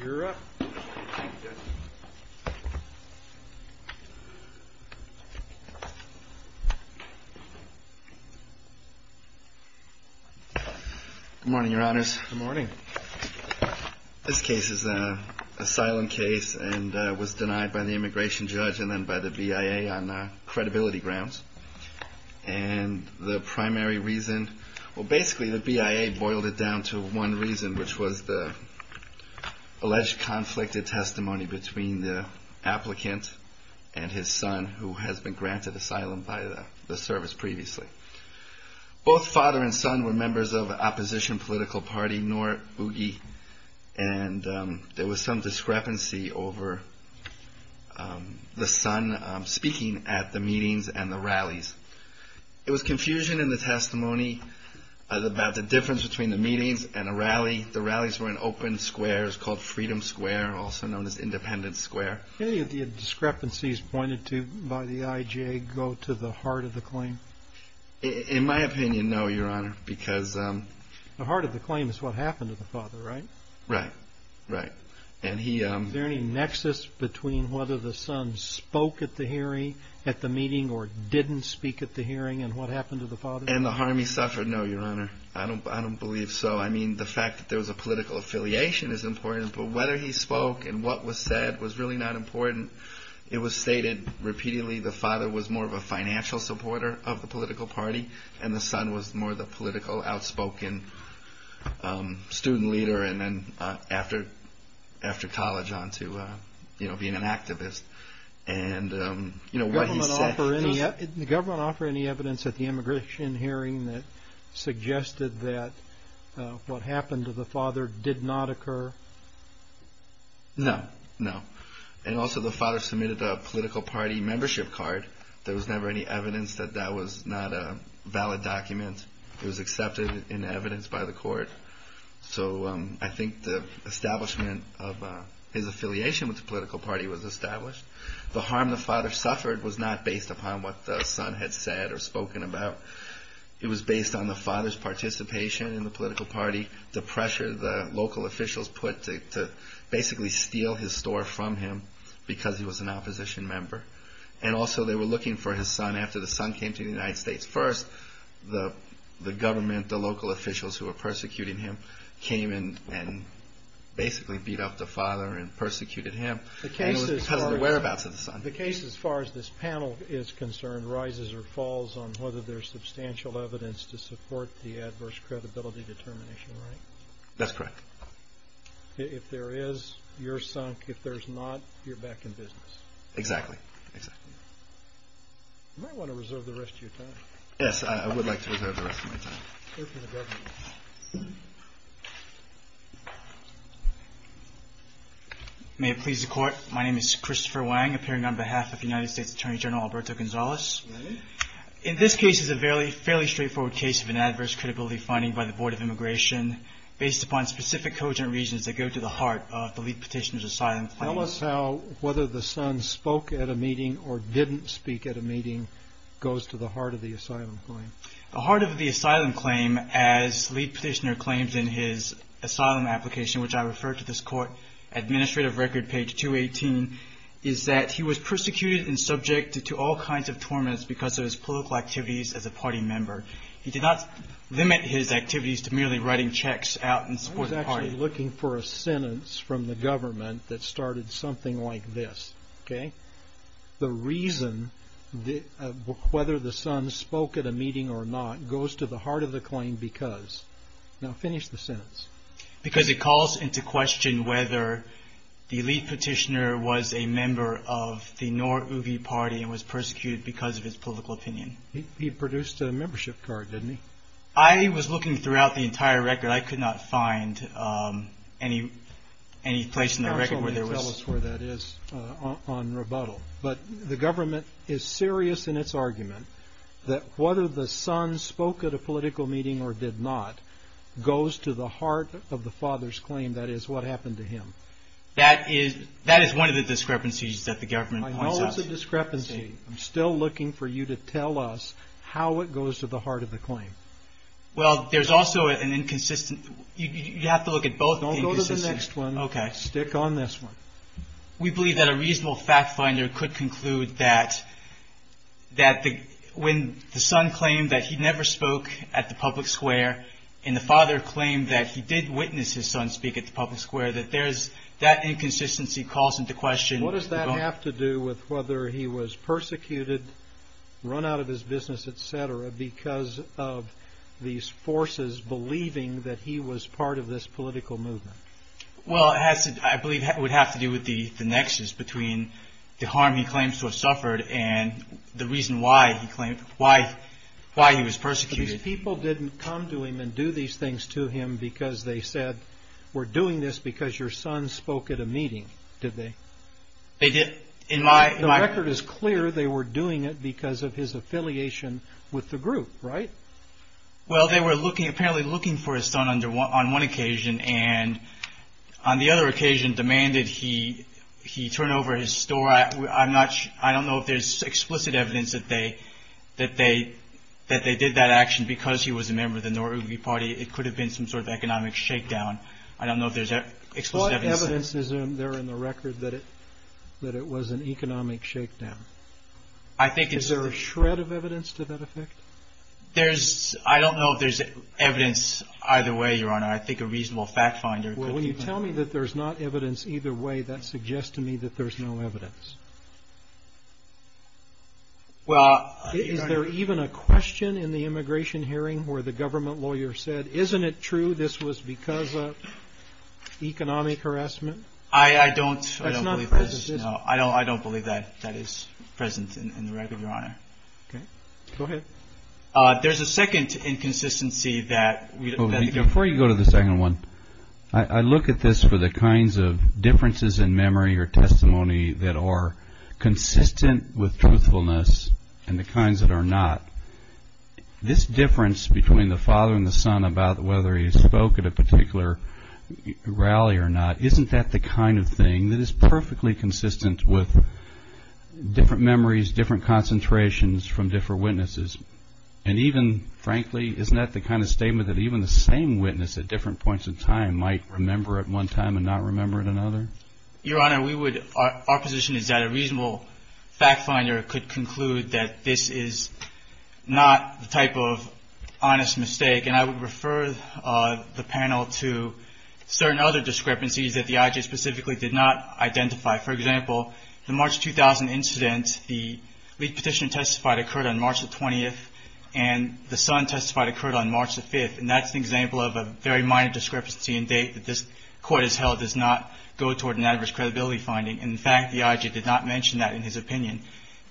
Good morning, your honors. Good morning. This case is an asylum case and was denied by the immigration judge and then by the BIA on credibility grounds. And the primary reason, well basically the BIA boiled it down to one reason, which was the alleged conflicted testimony between the applicant and his son who has been granted asylum by the service previously. Both father and son were members of the opposition political party, NORUGI, and there was some discrepancy over the son speaking at the meetings and the rallies. It was confusion in the testimony about the difference between the meetings and a rally. The rallies were in open squares called Freedom Square, also known as Independence Square. Any of the discrepancies pointed to by the IJA go to the heart of the claim? In my opinion, no, your honor, because... The heart of the claim is what happened to the father, right? Right, right. Is there any nexus between whether the son spoke at the hearing, at the meeting, or didn't speak at the hearing and what happened to the father? And the harm he suffered? No, your honor. I don't believe so. I mean, the fact that there was a political affiliation is important, but whether he spoke and what was said was really not important. It was stated repeatedly the father was more of a financial supporter of the political party, and the son was more the political outspoken student leader, and then after college on to being an activist. The government offer any evidence at the immigration hearing that suggested that what happened to the father did not occur? No, no. And also the father submitted a political party membership card. There was never any evidence that that was not a valid document. It was accepted in evidence by the court. So I think the establishment of his affiliation with the political party was established. The harm the father suffered was not based upon what the son had said or spoken about. It was based on the father's participation in the political party, the pressure the local officials put to basically steal his store from him because he was an opposition member. And also they were looking for his son after the son came to the United States first. The government, the local officials who were persecuting him came in and basically beat up the father and persecuted him because of the whereabouts of the son. The case as far as this panel is concerned rises or falls on whether there's substantial evidence to support the adverse credibility determination, right? That's correct. If there is, you're sunk. If there's not, you're back in business. Exactly, exactly. You might want to reserve the rest of your time. Yes, I would like to reserve the rest of my time. May it please the court. My name is Christopher Wang, appearing on behalf of the United States Attorney General Alberto Gonzalez. In this case is a fairly straightforward case of an adverse credibility finding by the Board of Immigration based upon specific cogent reasons that go to the heart of the lead petitioner's asylum claim. Tell us how whether the son spoke at a meeting or didn't speak at a meeting goes to the heart of the asylum claim. The heart of the asylum claim, as lead petitioner claims in his asylum application, which I refer to this court administrative record page 218, is that he was persecuted and subjected to all kinds of torments because of his political activities as a party member. He did not limit his activities to merely writing checks out and supporting the party. I'm sorry, looking for a sentence from the government that started something like this. Okay. The reason whether the son spoke at a meeting or not goes to the heart of the claim because. Now finish the sentence. Because it calls into question whether the lead petitioner was a member of the Nor'uvi party and was persecuted because of his political opinion. He produced a membership card, didn't he? I was looking throughout the entire record. I could not find any place in the record where there was. Tell us where that is on rebuttal. But the government is serious in its argument that whether the son spoke at a political meeting or did not goes to the heart of the father's claim. That is what happened to him. That is that is one of the discrepancies that the government. The discrepancy. I'm still looking for you to tell us how it goes to the heart of the claim. Well, there's also an inconsistent. You have to look at both. Go to the next one. Okay. Stick on this one. We believe that a reasonable fact finder could conclude that. That when the son claimed that he never spoke at the public square and the father claimed that he did witness his son speak at the public square, that there is that inconsistency calls into question. What does that have to do with whether he was persecuted, run out of his business, et cetera, because of these forces believing that he was part of this political movement? Well, I believe it would have to do with the the nexus between the harm he claims to have suffered and the reason why he claimed why why he was persecuted. These people didn't come to him and do these things to him because they said we're doing this because your son spoke at a meeting. Did they? They did. In my record is clear. They were doing it because of his affiliation with the group. Right. Well, they were looking apparently looking for his son under one on one occasion and on the other occasion demanded he he turn over his story. I'm not sure. I don't know if there's explicit evidence that they that they that they did that action because he was a member of the Noriega party. It could have been some sort of economic shakedown. I don't know if there's any evidence there in the record that it that it was an economic shakedown. I think it's a shred of evidence to that effect. There's I don't know if there's evidence either way. Your Honor, I think a reasonable fact finder. Well, when you tell me that there's not evidence either way, that suggests to me that there's no evidence. Well, is there even a question in the immigration hearing where the government lawyer said, isn't it true this was because of economic harassment? I don't I don't believe this. I don't I don't believe that that is present in the record. Go ahead. There's a second inconsistency that before you go to the second one. I look at this for the kinds of differences in memory or testimony that are consistent with truthfulness and the kinds that are not. This difference between the father and the son about whether he spoke at a particular rally or not, isn't that the kind of thing that is perfectly consistent with different memories, different concentrations from different witnesses? And even frankly, isn't that the kind of statement that even the same witness at different points in time might remember at one time and not remember it another? Your Honor, we would. Our position is that a reasonable fact finder could conclude that this is not the type of honest mistake. And I would refer the panel to certain other discrepancies that the IG specifically did not identify. For example, the March 2000 incident, the petitioner testified occurred on March the 20th and the son testified occurred on March the 5th. And that's an example of a very minor discrepancy in date that this court has held does not go toward an adverse credibility finding. In fact, the IG did not mention that in his opinion.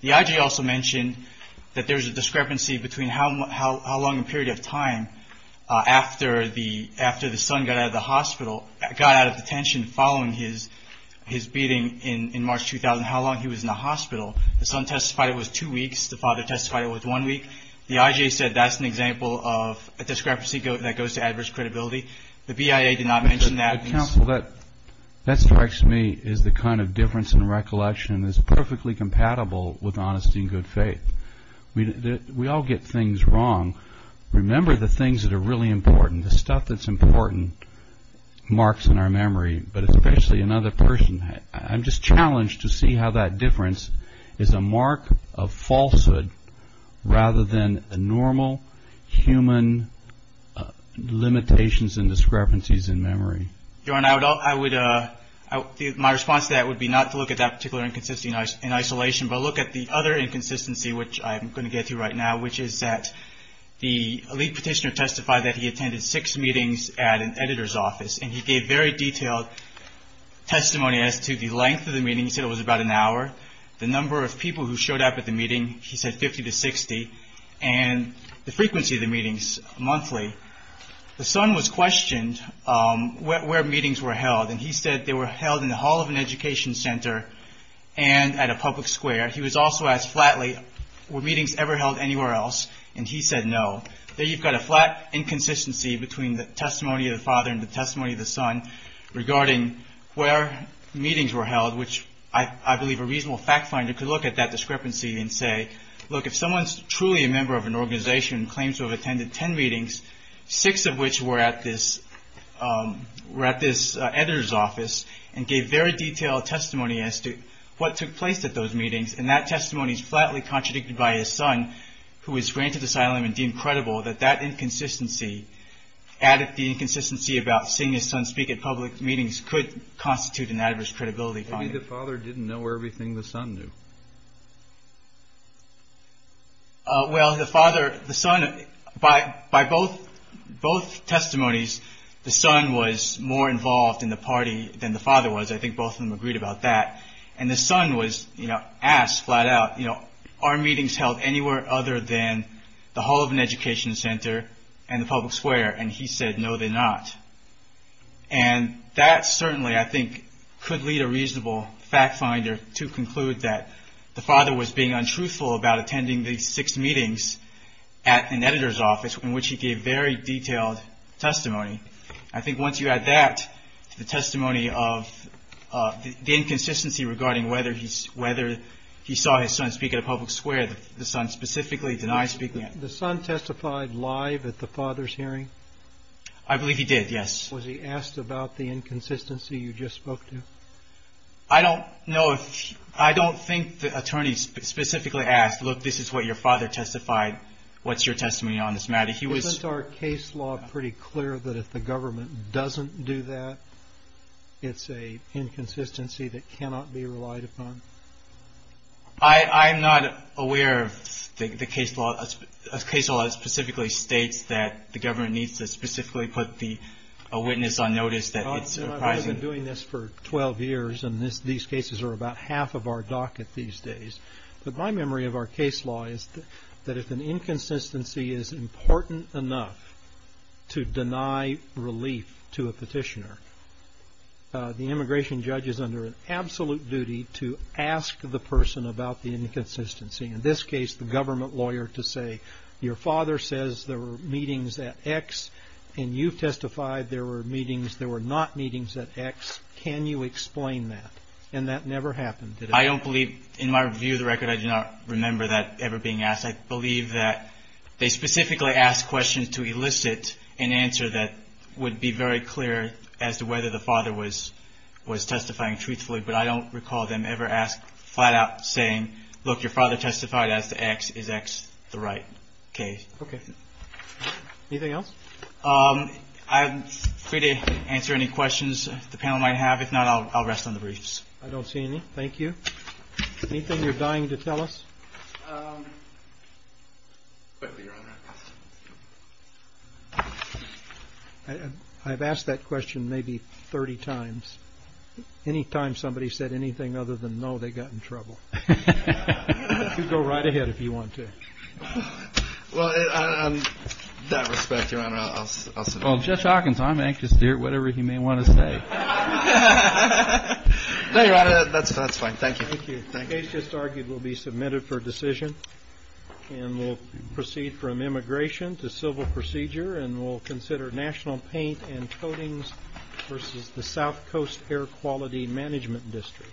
The IG also mentioned that there was a discrepancy between how long a period of time after the son got out of the hospital, got out of detention following his beating in March 2000, how long he was in the hospital. The son testified it was two weeks. The father testified it was one week. The IG said that's an example of a discrepancy that goes to adverse credibility. The BIA did not mention that. Counsel, that strikes me as the kind of difference in recollection that's perfectly compatible with honesty and good faith. We all get things wrong. Remember the things that are really important. The stuff that's important marks in our memory, but especially another person. I'm just challenged to see how that difference is a mark of falsehood rather than a normal human limitations and discrepancies in memory. My response to that would be not to look at that particular inconsistency in isolation, but look at the other inconsistency, which I'm going to get to right now, which is that the lead petitioner testified that he attended six meetings at an editor's office and he gave very detailed testimony as to the length of the meeting. He said it was about an hour, the number of people who showed up at the meeting, he said 50 to 60, and the frequency of the meetings, monthly. The son was questioned where meetings were held, and he said they were held in the hall of an education center and at a public square. He was also asked flatly, were meetings ever held anywhere else, and he said no. There you've got a flat inconsistency between the testimony of the father and the testimony of the son regarding where meetings were held, which I believe a reasonable fact finder could look at that discrepancy and say, look, if someone's truly a member of an organization and claims to have attended ten meetings, six of which were at this editor's office and gave very detailed testimony as to what took place at those meetings, and that testimony is flatly contradicted by his son, who was granted asylum and deemed credible, that that inconsistency added the inconsistency about seeing his son speak at public meetings could constitute an adverse credibility finding. Maybe the father didn't know everything the son knew. Well, the father, the son, by both testimonies, the son was more involved in the party than the father was. I think both of them agreed about that. And the son was, you know, asked flat out, you know, are meetings held anywhere other than the hall of an education center and the public square? And he said, no, they're not. And that certainly, I think, could lead a reasonable fact finder to conclude that the father was being untruthful about attending the six meetings at an editor's office in which he gave very detailed testimony. I think once you add that to the testimony of the inconsistency regarding whether he saw his son speak at a public square, the son specifically denied speaking at a public square. The son testified live at the father's hearing? I believe he did, yes. Was he asked about the inconsistency you just spoke to? I don't know. I don't think the attorney specifically asked, look, this is what your father testified. What's your testimony on this matter? Isn't our case law pretty clear that if the government doesn't do that, it's an inconsistency that cannot be relied upon? I'm not aware of a case law that specifically states that the government needs to specifically put a witness on notice. I've been doing this for 12 years, and these cases are about half of our docket these days. But my memory of our case law is that if an inconsistency is important enough to deny relief to a petitioner, the immigration judge is under an absolute duty to ask the person about the inconsistency, in this case the government lawyer, to say, your father says there were meetings at X, and you've testified there were meetings that were not meetings at X. Can you explain that? And that never happened, did it? I don't believe, in my view of the record, I do not remember that ever being asked. I believe that they specifically asked questions to elicit an answer that would be very clear as to whether the father was testifying truthfully. But I don't recall them ever asking flat out saying, look, your father testified as to X. Is X the right case? Okay. Anything else? I'm free to answer any questions the panel might have. If not, I'll rest on the briefs. I don't see any. Thank you. Anything you're dying to tell us? Quickly, Your Honor. I've asked that question maybe 30 times. Any time somebody said anything other than no, they got in trouble. You can go right ahead if you want to. Well, in that respect, Your Honor, I'll sit down. Well, Judge Hawkins, I'm anxious to hear whatever he may want to say. No, Your Honor. That's fine. Thank you. The case just argued will be submitted for decision. And we'll proceed from immigration to civil procedure. And we'll consider national paint and coatings versus the South Coast Air Quality Management District.